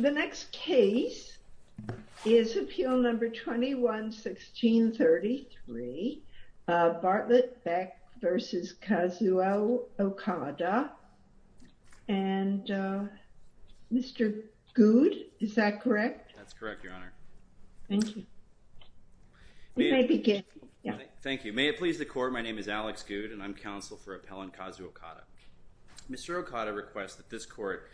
The next case is appeal number 21-1633 Bartlett Beck v. Kazuo Okada and Mr. Goud, is that correct? That's correct, your honor. Thank you. Thank you. May it please the court, my name is Alex Goud and I'm counsel for appellant Kazuo Okada. Mr. Okada requests that this court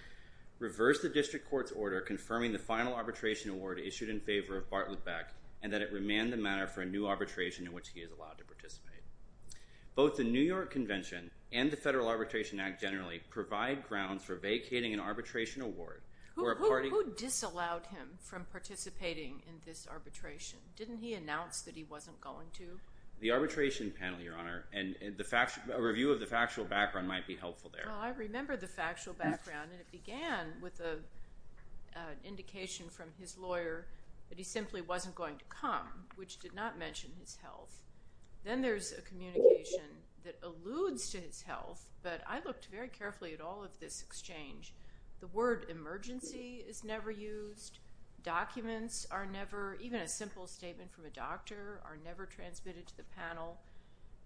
reverse the district court's order confirming the final arbitration award issued in favor of Bartlett Beck and that it remain the matter for a new arbitration in which he is allowed to participate. Both the New York Convention and the Federal Grounds for Vacating an Arbitration Award. Who disallowed him from participating in this arbitration? Didn't he announce that he wasn't going to? The arbitration panel, your honor, and a review of the factual background might be helpful there. Well, I remember the factual background and it began with an indication from his lawyer that he simply wasn't going to come, which did not mention his health. Then there's a communication that alludes to his health, but I looked very carefully at all of this exchange. The word emergency is never used, documents are never, even a simple statement from a doctor are never transmitted to the panel,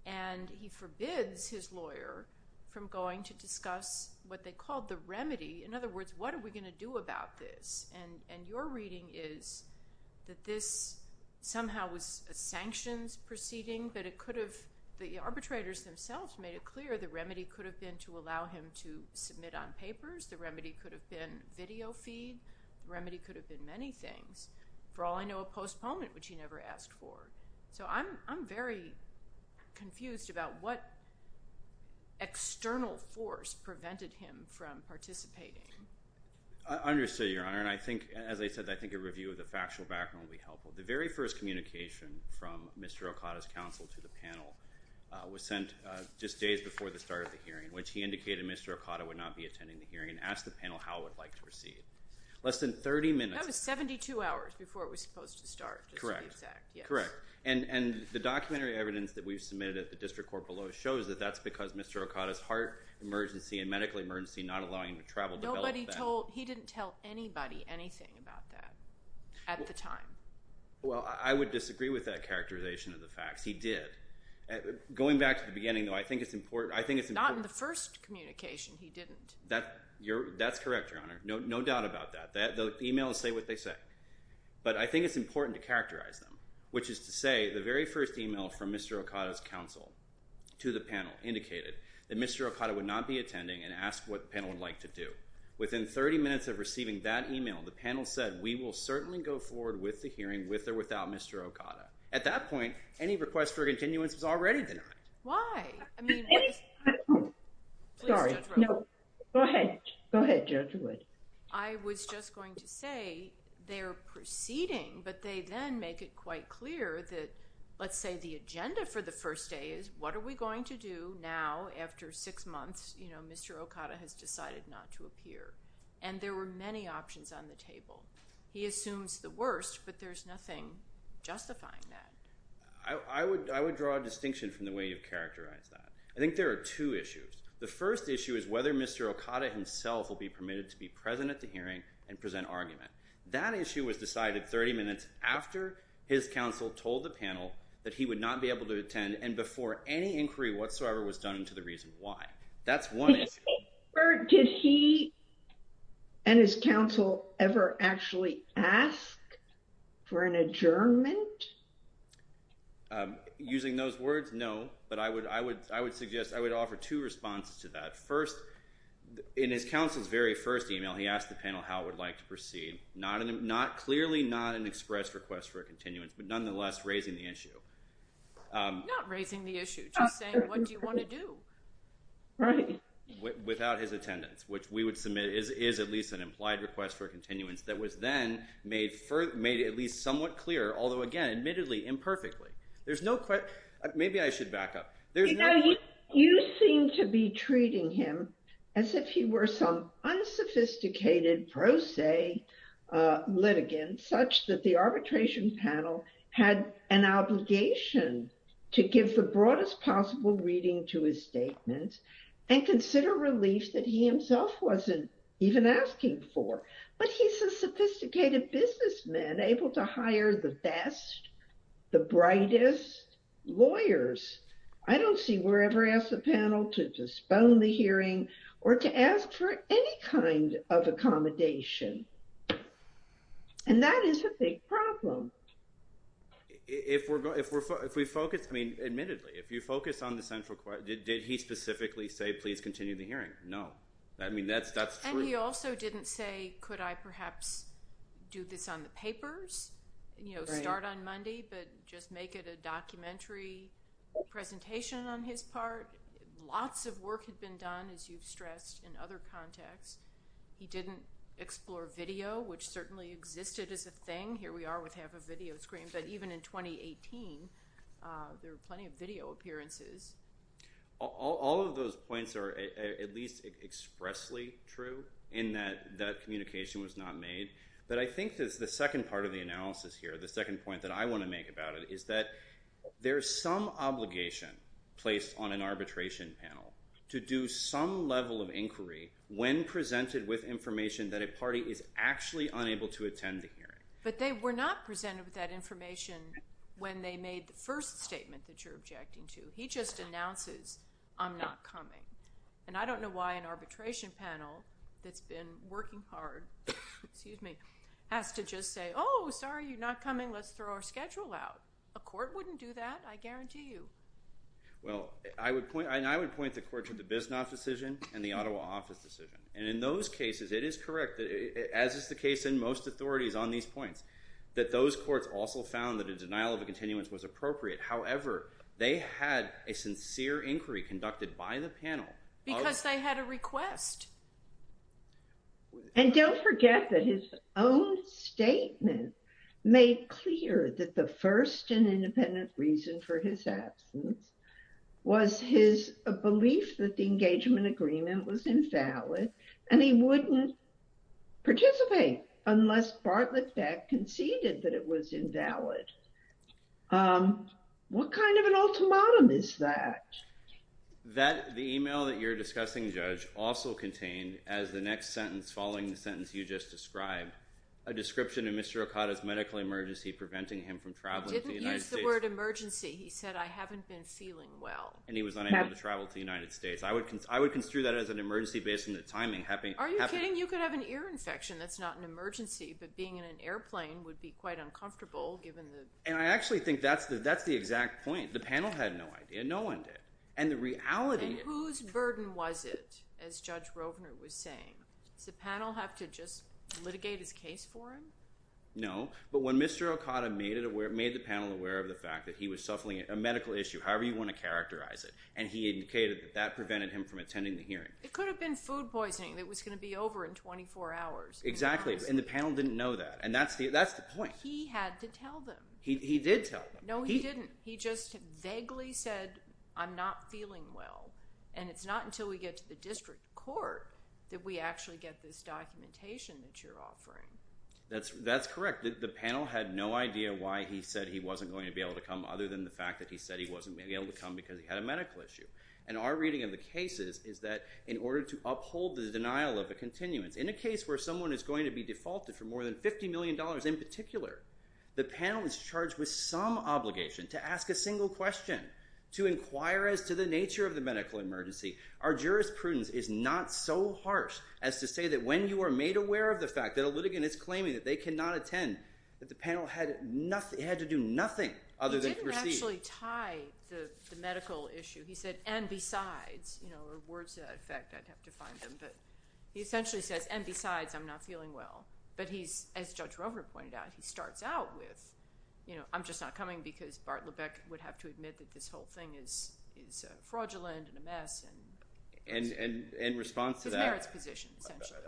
and he forbids his lawyer from going to discuss what they called the remedy. In other words, what are we going to do about this? And your reading is that this somehow was a sanctions proceeding, but it could have, the arbitrators themselves made it clear the remedy could have been to allow him to submit on papers, the remedy could have been video feed, the remedy could have been many things. For all I know, a postponement, which he never asked for. So I'm very confused about what external force prevented him from participating. I understand, your honor, and I think, as I said, I think a review of the factual background will be helpful. The very first communication from Mr. Okada's counsel to the panel was sent just days before the start of the hearing, which he indicated Mr. Okada would not be attending the hearing and asked the panel how it would like to proceed. Less than 30 minutes. That was 72 hours before it was supposed to start. Correct, correct. And the documentary evidence that we've submitted at the district court below shows that that's because Mr. Okada's heart emergency and medical emergency not allowing him to travel developed that. Nobody told, he didn't tell anybody anything about that at the time. Well, I would disagree with that characterization of the facts. He did. Going back to the beginning, though, I think it's important. I think it's not in the first communication. He didn't. That's correct, your honor. No doubt about that. The emails say what they say, but I think it's important to characterize them, which is to say the very first email from Mr. Okada's counsel to the panel indicated that Mr. Okada would not be attending and asked what panel said. We will certainly go forward with the hearing with or without Mr. Okada. At that point, any request for continuance was already denied. Why? Go ahead. Go ahead, Judge Wood. I was just going to say they're proceeding, but they then make it quite clear that, let's say the agenda for the first day is what are we going to do now after six months, Mr. Okada has decided not to appear, and there were many options on the table. He assumes the worst, but there's nothing justifying that. I would draw a distinction from the way you've characterized that. I think there are two issues. The first issue is whether Mr. Okada himself will be permitted to be present at the hearing and present argument. That issue was decided 30 minutes after his counsel told the panel that he would not be able to attend and before any further discussion. Did he and his counsel ever actually ask for an adjournment? Using those words, no, but I would suggest I would offer two responses to that. First, in his counsel's very first email, he asked the panel how it would like to proceed. Clearly not an express request for a continuance, but nonetheless raising the issue. Not raising the issue, just saying what do you want to do? Right. Without his attendance, which we would submit is at least an implied request for continuance that was then made at least somewhat clear, although again, admittedly imperfectly. There's no... Maybe I should back up. You know, you seem to be treating him as if he were some unsophisticated pro se litigant, such that the arbitration panel had an obligation to give the broadest possible reading to his statement and consider relief that he himself wasn't even asking for, but he's a sophisticated businessman able to hire the best, the brightest lawyers. I don't see we're ever asked the panel to disbone the hearing or to ask for any kind of accommodation, and that is a big problem. But if we focus, I mean, admittedly, if you focus on the central question, did he specifically say please continue the hearing? No. I mean, that's true. And he also didn't say, could I perhaps do this on the papers? You know, start on Monday, but just make it a documentary presentation on his part. Lots of work had been done, as you've stressed, in other contexts. He didn't explore video, which certainly existed as a thing. Here we are with half a video screen, but even in 2018, there were plenty of video appearances. All of those points are at least expressly true in that that communication was not made. But I think that the second part of the analysis here, the second point that I want to make about it is that there is some obligation placed on an arbitration panel to do some level of inquiry when presented with information that a party is actually unable to attend the hearing. But they were not presented with that information when they made the first statement that you're objecting to. He just announces, I'm not coming. And I don't know why an arbitration panel that's been working hard has to just say, oh, sorry, you're not coming. Let's throw our schedule out. A court wouldn't do that, I guarantee you. Well, I would point the court to the Bisnoff decision and the Ottawa office decision. And in those cases, it is correct, as is the case in most authorities on these points, that those courts also found that a denial of a continuance was appropriate. However, they had a sincere inquiry conducted by the panel. Because they had a request. And don't forget that his own statement made clear that the first and independent reason for his And he wouldn't participate unless Bartlett Beck conceded that it was invalid. What kind of an ultimatum is that? The email that you're discussing, Judge, also contained, as the next sentence, following the sentence you just described, a description of Mr. Okada's medical emergency preventing him from traveling to the United States. He didn't use the word emergency. He said, I haven't been feeling well. And he was unable to travel to the United States. I would construe that as an emergency based on the timing happening. Are you kidding? You could have an ear infection that's not an emergency. But being in an airplane would be quite uncomfortable, given the... And I actually think that's the exact point. The panel had no idea. No one did. And the reality... And whose burden was it, as Judge Rovner was saying? Does the panel have to just litigate his case for him? No. But when Mr. Okada made the panel aware of the fact that he was suffering a medical issue, however you want to characterize it, and he indicated that that prevented him from attending the hearing. It could have been food poisoning that was going to be over in 24 hours. Exactly. And the panel didn't know that. And that's the point. He had to tell them. He did tell them. No, he didn't. He just vaguely said, I'm not feeling well. And it's not until we get to the district court that we actually get this documentation that you're offering. That's correct. The panel had no idea why he said he wasn't going to be able to come, other than the fact that he said he wasn't going to be able to come because he had a medical issue. And our reading of the cases is that in order to uphold the denial of a continuance, in a case where someone is going to be defaulted for more than $50 million in particular, the panel is charged with some obligation to ask a single question, to inquire as to the nature of the medical emergency. Our jurisprudence is not so harsh as to say that when you are made aware of the fact that a litigant is claiming that they cannot attend, that the panel had to do nothing other than proceed. He didn't actually tie the medical issue. He said, and besides, or words to that effect, I'd have to find them. But he essentially says, and besides, I'm not feeling well. But he's, as Judge Rover pointed out, he starts out with, I'm just not coming because Bart Lebeck would have to admit that this whole thing is fraudulent and a mess. And in response to that- His merits position, essentially.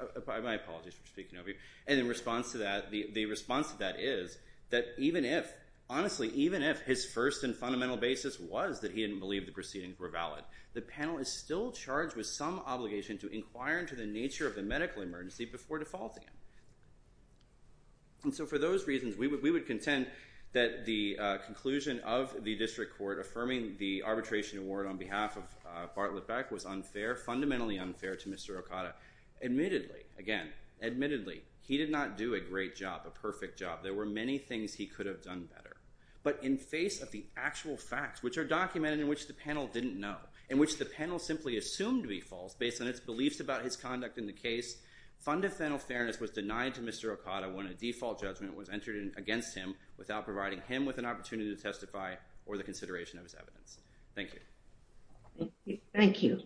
My apologies for speaking over you. And in response to that, the response to that is that even if, honestly, even if his first and fundamental basis was that he didn't believe the proceedings were valid, the panel is still charged with some obligation to inquire into the nature of the medical emergency before defaulting it. And so for those reasons, we would contend that the conclusion of the district court affirming the arbitration award on behalf of Bart Lebeck was unfair, fundamentally unfair to Mr. Okada. Admittedly, again, admittedly, he did not do a great job, a perfect job. There were many things he could have done better. But in face of the actual facts, which are documented, in which the panel didn't know, in which the panel simply assumed to be false based on its beliefs about his conduct in the case, fundamental fairness was denied to Mr. Okada when a default judgment was entered against him without providing him with an opportunity to testify or the consideration of his evidence. Thank you. Thank you.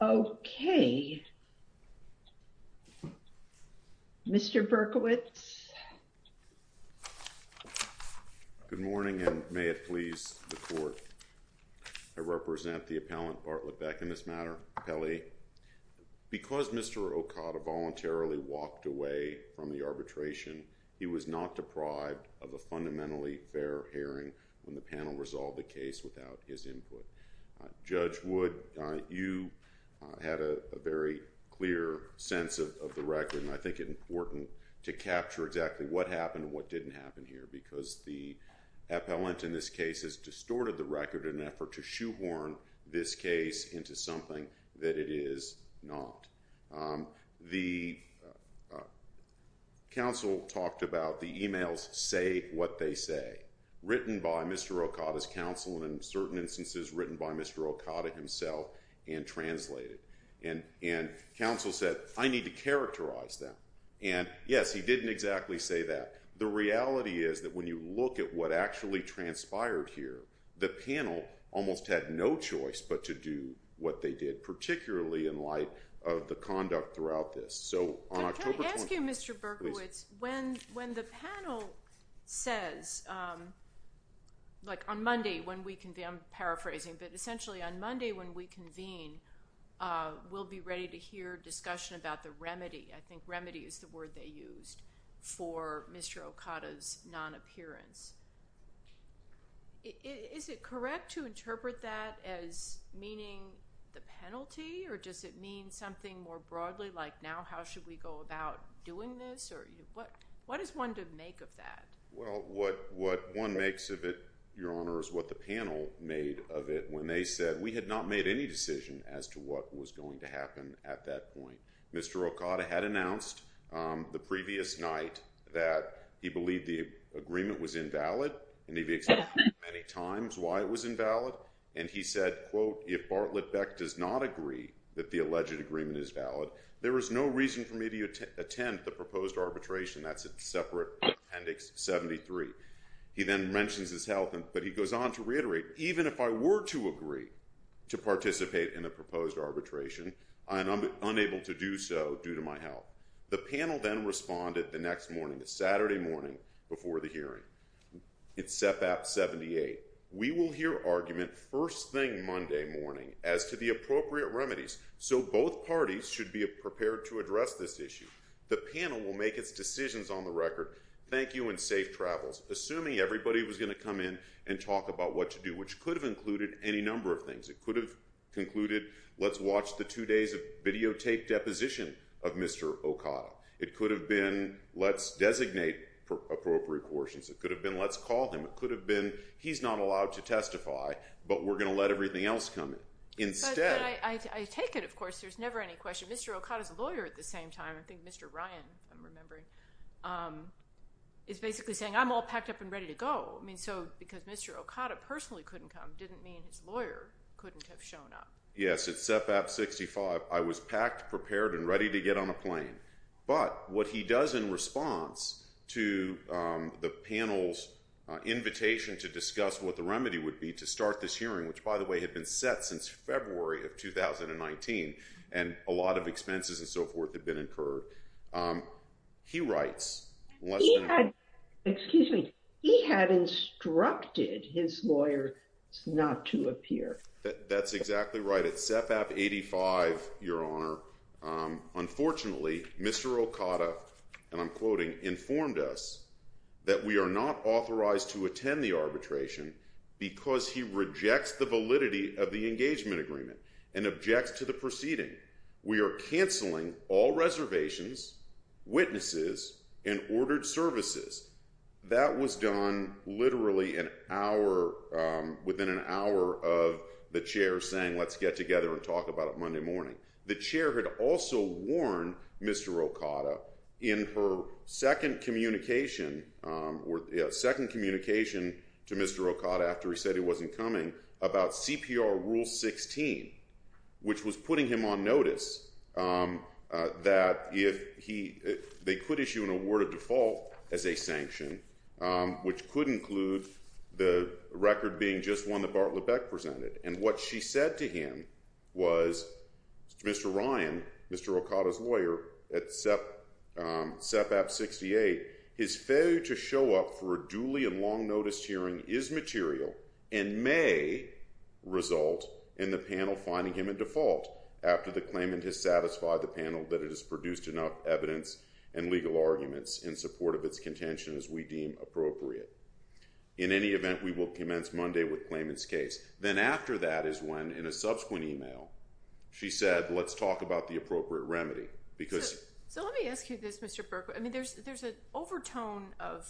Okay. Mr. Berkowitz. Good morning, and may it please the court. I represent the appellant Bart Lebeck in this matter, Pele. Because Mr. Okada voluntarily walked away from the arbitration, he was not deprived of a fundamentally fair hearing when the panel resolved the case without his input. Judge Wood, you had a very clear sense of the record, and I think it's important to capture exactly what happened and what didn't happen here, because the appellant in this case has distorted the record in an effort to shoehorn this case into something that it is not. The counsel talked about the emails say what they say, written by Mr. Okada's counsel and, in certain instances, written by Mr. Okada himself and translated. And counsel said, I need to characterize that. And yes, he didn't exactly say that. The reality is that when you look at what actually transpired here, the panel almost had no choice but to do what they did, particularly in light of the conduct throughout this. So, on October 20th— Can I ask you, Mr. Berkowitz, when the panel says, like, on Monday when we—I'm paraphrasing— but essentially on Monday when we convene, we'll be ready to hear discussion about the remedy— Mr. Okada's non-appearance. Is it correct to interpret that as meaning the penalty, or does it mean something more broadly like, now how should we go about doing this? What is one to make of that? Well, what one makes of it, Your Honor, is what the panel made of it when they said we had not made any decision as to what was going to happen at that point. Mr. Okada had announced the previous night that he believed the agreement was invalid, and he'd accepted many times why it was invalid, and he said, quote, if Bartlett Beck does not agree that the alleged agreement is valid, there is no reason for me to attend the proposed arbitration. That's a separate Appendix 73. He then mentions his health, but he goes on to reiterate, even if I were to agree to participate in a proposed arbitration, I'm unable to do so due to my health. The panel then responded the next morning, the Saturday morning before the hearing. It's SEP App 78. We will hear argument first thing Monday morning as to the appropriate remedies, so both parties should be prepared to address this issue. The panel will make its decisions on the record. Thank you, and safe travels, assuming everybody was going to come in and talk about what to do, which could have included any number of things. It could have concluded, let's watch the two days of videotape deposition of Mr. Okada. It could have been, let's designate appropriate portions. It could have been, let's call him. It could have been, he's not allowed to testify, but we're going to let everything else come instead. But I take it, of course, there's never any question. Mr. Okada's a lawyer at the same time. I think Mr. Ryan, if I'm remembering, is basically saying, I'm all packed up and ready to go. I mean, so because Mr. Okada personally couldn't come didn't mean his lawyer couldn't have shown up. Yes, at CEPAP 65, I was packed, prepared, and ready to get on a plane. But what he does in response to the panel's invitation to discuss what the remedy would be to start this hearing, which, by the way, had been set since February of 2019, and a lot of expenses and so forth had been incurred, he writes less than a minute. Excuse me. He had instructed his lawyers not to appear. That's exactly right. At CEPAP 85, your honor, unfortunately, Mr. Okada, and I'm quoting, informed us that we are not authorized to attend the arbitration because he rejects the validity of the engagement agreement and objects to the proceeding. We are canceling all reservations, witnesses, and ordered services. That was done literally within an hour of the chair saying, let's get together and talk about it Monday morning. The chair had also warned Mr. Okada in her second communication to Mr. Okada after he said he wasn't coming about CPR Rule 16, which was putting him on notice that they could issue an awarded default as a sanction, which could include the record being just one that Bart LeBecq presented. And what she said to him was, Mr. Ryan, Mr. Okada's lawyer at CEPAP 68, his failure to show up for a duly and long notice hearing is material and may result in the panel finding him in default after the claimant has satisfied the panel that it has produced enough evidence and legal arguments in support of its contention as we deem appropriate. In any event, we will commence Monday with claimant's case. Then after that is when in a subsequent email, she said, let's talk about the appropriate remedy because- So let me ask you this, Mr. Berkowitz. I mean, there's an overtone of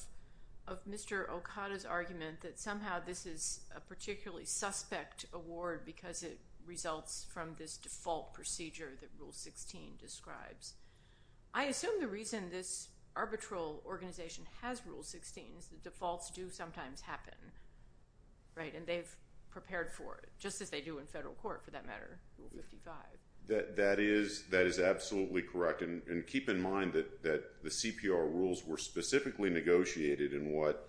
Mr. Okada's argument that somehow this is a particularly suspect award because it results from this default procedure that Rule 16 describes. I assume the reason this arbitral organization has Rule 16 is the defaults do sometimes happen, right? And they've prepared for it, just as they do in federal court for that matter, Rule 55. That is absolutely correct. And keep in mind that the CPR rules were specifically negotiated in what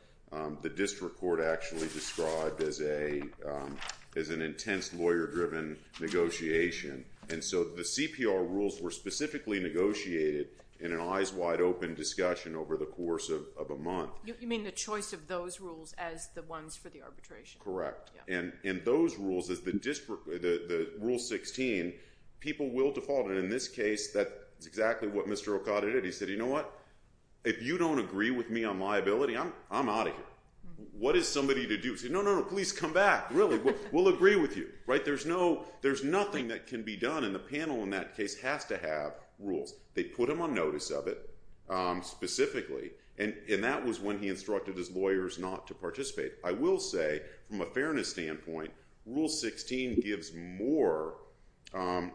the district court actually described as an intense lawyer-driven negotiation. And so the CPR rules were specifically negotiated in an eyes wide open discussion over the course of a month. You mean the choice of those rules as the ones for the arbitration? Correct. And those rules, the Rule 16, people will default. And in this case, that's exactly what Mr. Okada did. He said, you know what? If you don't agree with me on liability, I'm out of here. What is somebody to do? He said, no, no, no, please come back. Really, we'll agree with you, right? There's nothing that can be done. And the panel in that case has to have rules. They put him on notice of it specifically. And that was when he instructed his lawyers not to participate. I will say, from a fairness standpoint, Rule 16 gives more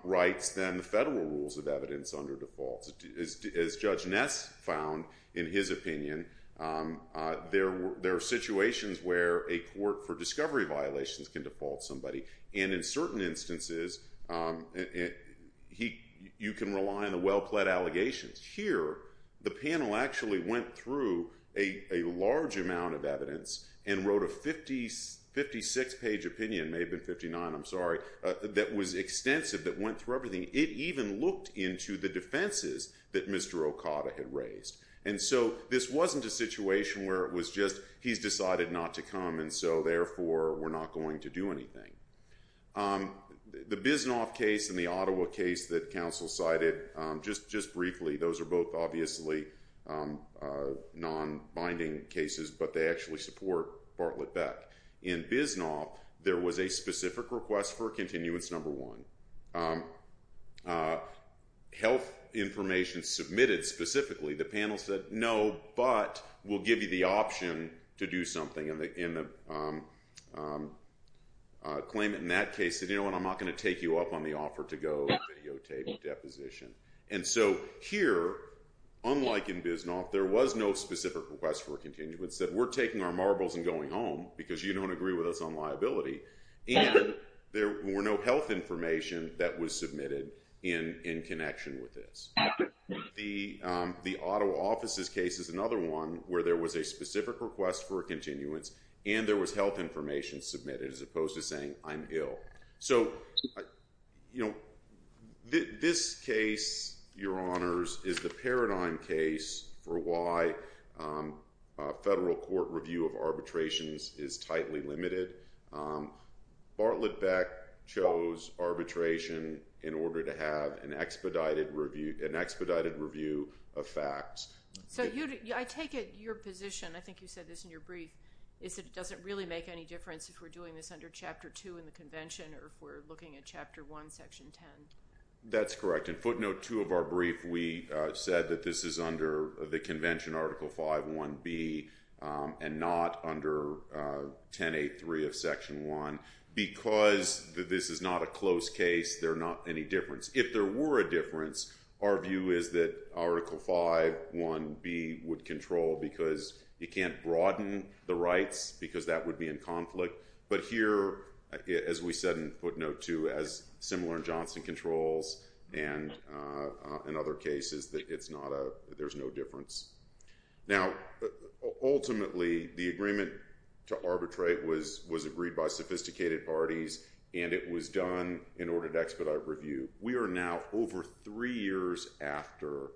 rights than the federal rules of evidence under defaults. As Judge Ness found in his opinion, there are situations where a court for discovery violations can default somebody. And in certain instances, you can rely on the well-pled allegations. Here, the panel actually went through a large amount of evidence and wrote a 56 page opinion, may have been 59, I'm sorry, that was extensive, that went through everything. It even looked into the defenses that Mr. Okada had raised. And so this wasn't a situation where it was just, he's decided not to come, and so therefore, we're not going to do anything. The Bisnoff case and the Ottawa case that counsel cited, just briefly, those are both obviously non-binding cases, but they actually support Bartlett-Beck. In Bisnoff, there was a specific request for a continuance number one. Health information submitted specifically, the panel said, no, but we'll give you the option to do something in the claimant. In that case, they said, you know what, I'm not going to take you up on the offer to go videotape a deposition. And so here, unlike in Bisnoff, there was no specific request for a continuance, that we're taking our marbles and going home because you don't agree with us on liability. And there were no health information that was submitted in connection with this. The Ottawa offices case is another one where there was a specific request for a continuance, and there was health information submitted as opposed to saying, I'm ill. So this case, your honors, is the paradigm case for why federal court review of arbitrations is tightly limited. Bartlett-Beck chose arbitration in order to have an expedited review of facts. So I take it your position, I think you said this in your brief, is that it doesn't really make any difference if we're doing this under chapter two in the convention or if we're looking at chapter one, section 10. That's correct. In footnote two of our brief, we said that this is under the convention article 5.1b and not under 10.8.3 of section one. Because this is not a close case, there are not any difference. If there were a difference, our view is that article 5.1b would control because you can't broaden the rights because that would be in conflict. But here, as we said in footnote two, as similar in Johnson controls and in other cases, there's no difference. Now, ultimately, the agreement to arbitrate was agreed by sophisticated parties and it was done in order to expedite review. We are now over three years after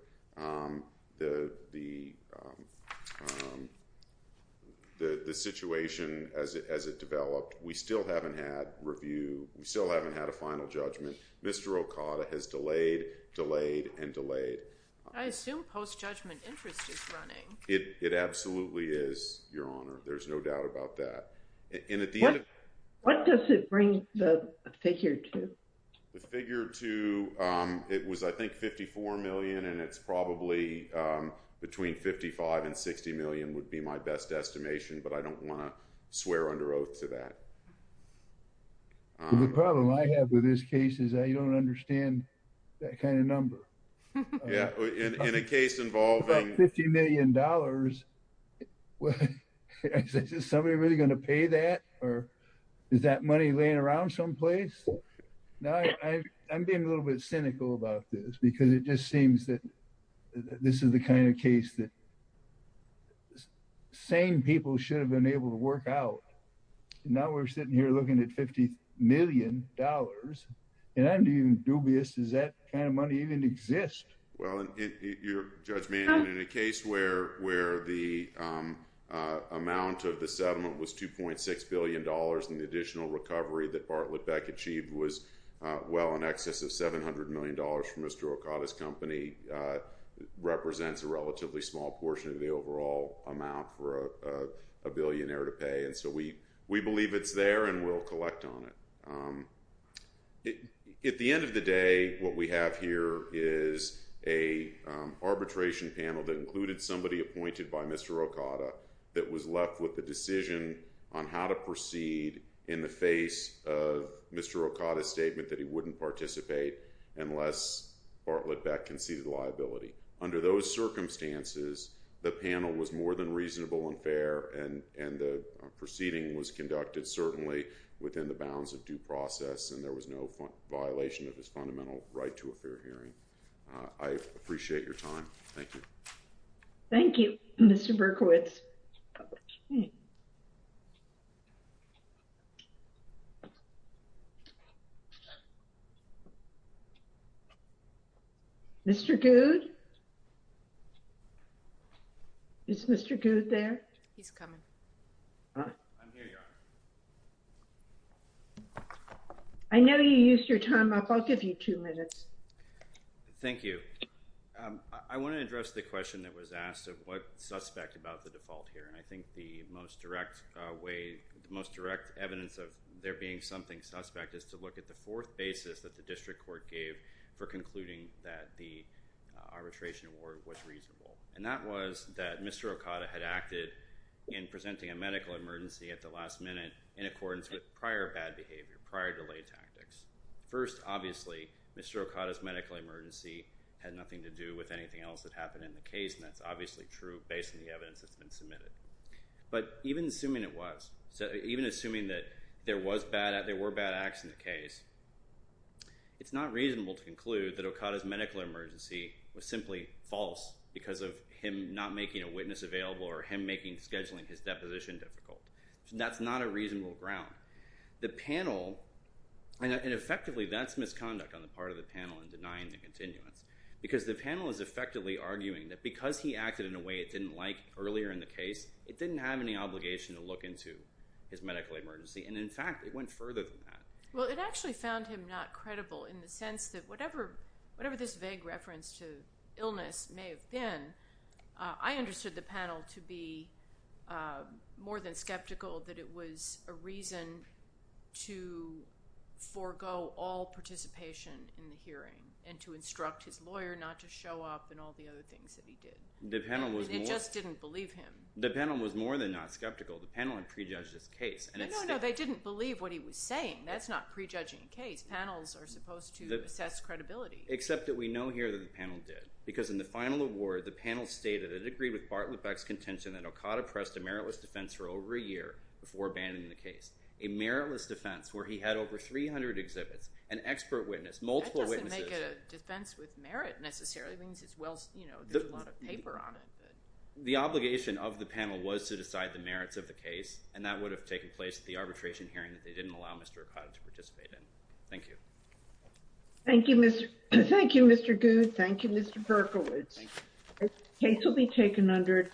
the situation as it developed. We still haven't had review. We still haven't had a final judgment. Mr. Okada has delayed, delayed, and delayed. I assume post-judgment interest is running. It absolutely is, Your Honor. There's no doubt about that. And at the end of- What does it bring the figure to? The figure to, it was, I think, 54 million. And it's probably between 55 and 60 million would be my best estimation. But I don't want to swear under oath to that. The problem I have with this case is I don't understand that kind of number. Yeah, in a case involving- About $50 million. $50 million, is somebody really going to pay that? Or is that money laying around someplace? No, I'm being a little bit cynical about this because it just seems that this is the kind of case that sane people should have been able to work out. Now we're sitting here looking at $50 million. And I'm being dubious, does that kind of money even exist? Well, in your judgment, in a case where the amount of the settlement was $2.6 billion and the additional recovery that Bartlett Beck achieved was well in excess of $700 million from Mr. Okada's company, represents a relatively small portion of the overall amount for a billionaire to pay. And so we believe it's there and we'll collect on it. At the end of the day, what we have here is a arbitration panel that included somebody appointed by Mr. Okada that was left with the decision on how to proceed in the face of Mr. Okada's statement that he wouldn't participate unless Bartlett Beck conceded liability. Under those circumstances, the panel was more than reasonable and fair and the proceeding was conducted certainly within the bounds of due process and there was no violation of his fundamental right to a fair hearing. I appreciate your time. Thank you. Thank you, Mr. Berkowitz. Mr. Goode? Is Mr. Goode there? He's coming. I'm here, Your Honor. I know you used your time up. I'll give you two minutes. Thank you. I want to address the question that was asked of what suspect about the default here. And I think the most direct way, the most direct evidence of there being something suspect is to look at the fourth basis that the district court gave for concluding that the arbitration award was reasonable. And that was that Mr. Okada had acted in presenting a medical emergency at the last minute in accordance with prior bad behavior, prior delay tactics. First, obviously, Mr. Okada's medical emergency had nothing to do with anything else that happened in the case. And that's obviously true based on the evidence that's been submitted. But even assuming it was, even assuming that there were bad acts in the case, it's not reasonable to conclude that Okada's medical emergency was simply false because of him not making a witness available or him making scheduling his deposition difficult. That's not a reasonable ground. The panel, and effectively, that's misconduct on the part of the panel in denying the continuance because the panel is effectively arguing that because he acted in a way it didn't like earlier in the case, it didn't have any obligation to look into his medical emergency. And in fact, it went further than that. Well, it actually found him not credible in the sense that whatever this vague reference to illness may have been, I understood the panel to be more than skeptical that it was a reason to forego all participation in the hearing and to instruct his lawyer not to show up and all the other things that he did. And it just didn't believe him. The panel was more than not skeptical. The panel had prejudged his case. No, no, no. They didn't believe what he was saying. That's not prejudging a case. Panels are supposed to assess credibility. Except that we know here that the panel did because in the final award, the panel stated that it agreed with Bartlett Beck's contention that Okada pressed a meritless defense for over a year before abandoning the case. A meritless defense where he had over 300 exhibits, an expert witness, multiple witnesses. That doesn't make it a defense with merit necessarily. It means it's well, you know, there's a lot of paper on it. The obligation of the panel was to decide the merits of the case. And that would have taken place at the arbitration hearing that they didn't allow Mr. Okada to participate in. Thank you. Thank you, Mr. Goode. Thank you, Mr. Berkowitz. Thank you. Case will be taken under.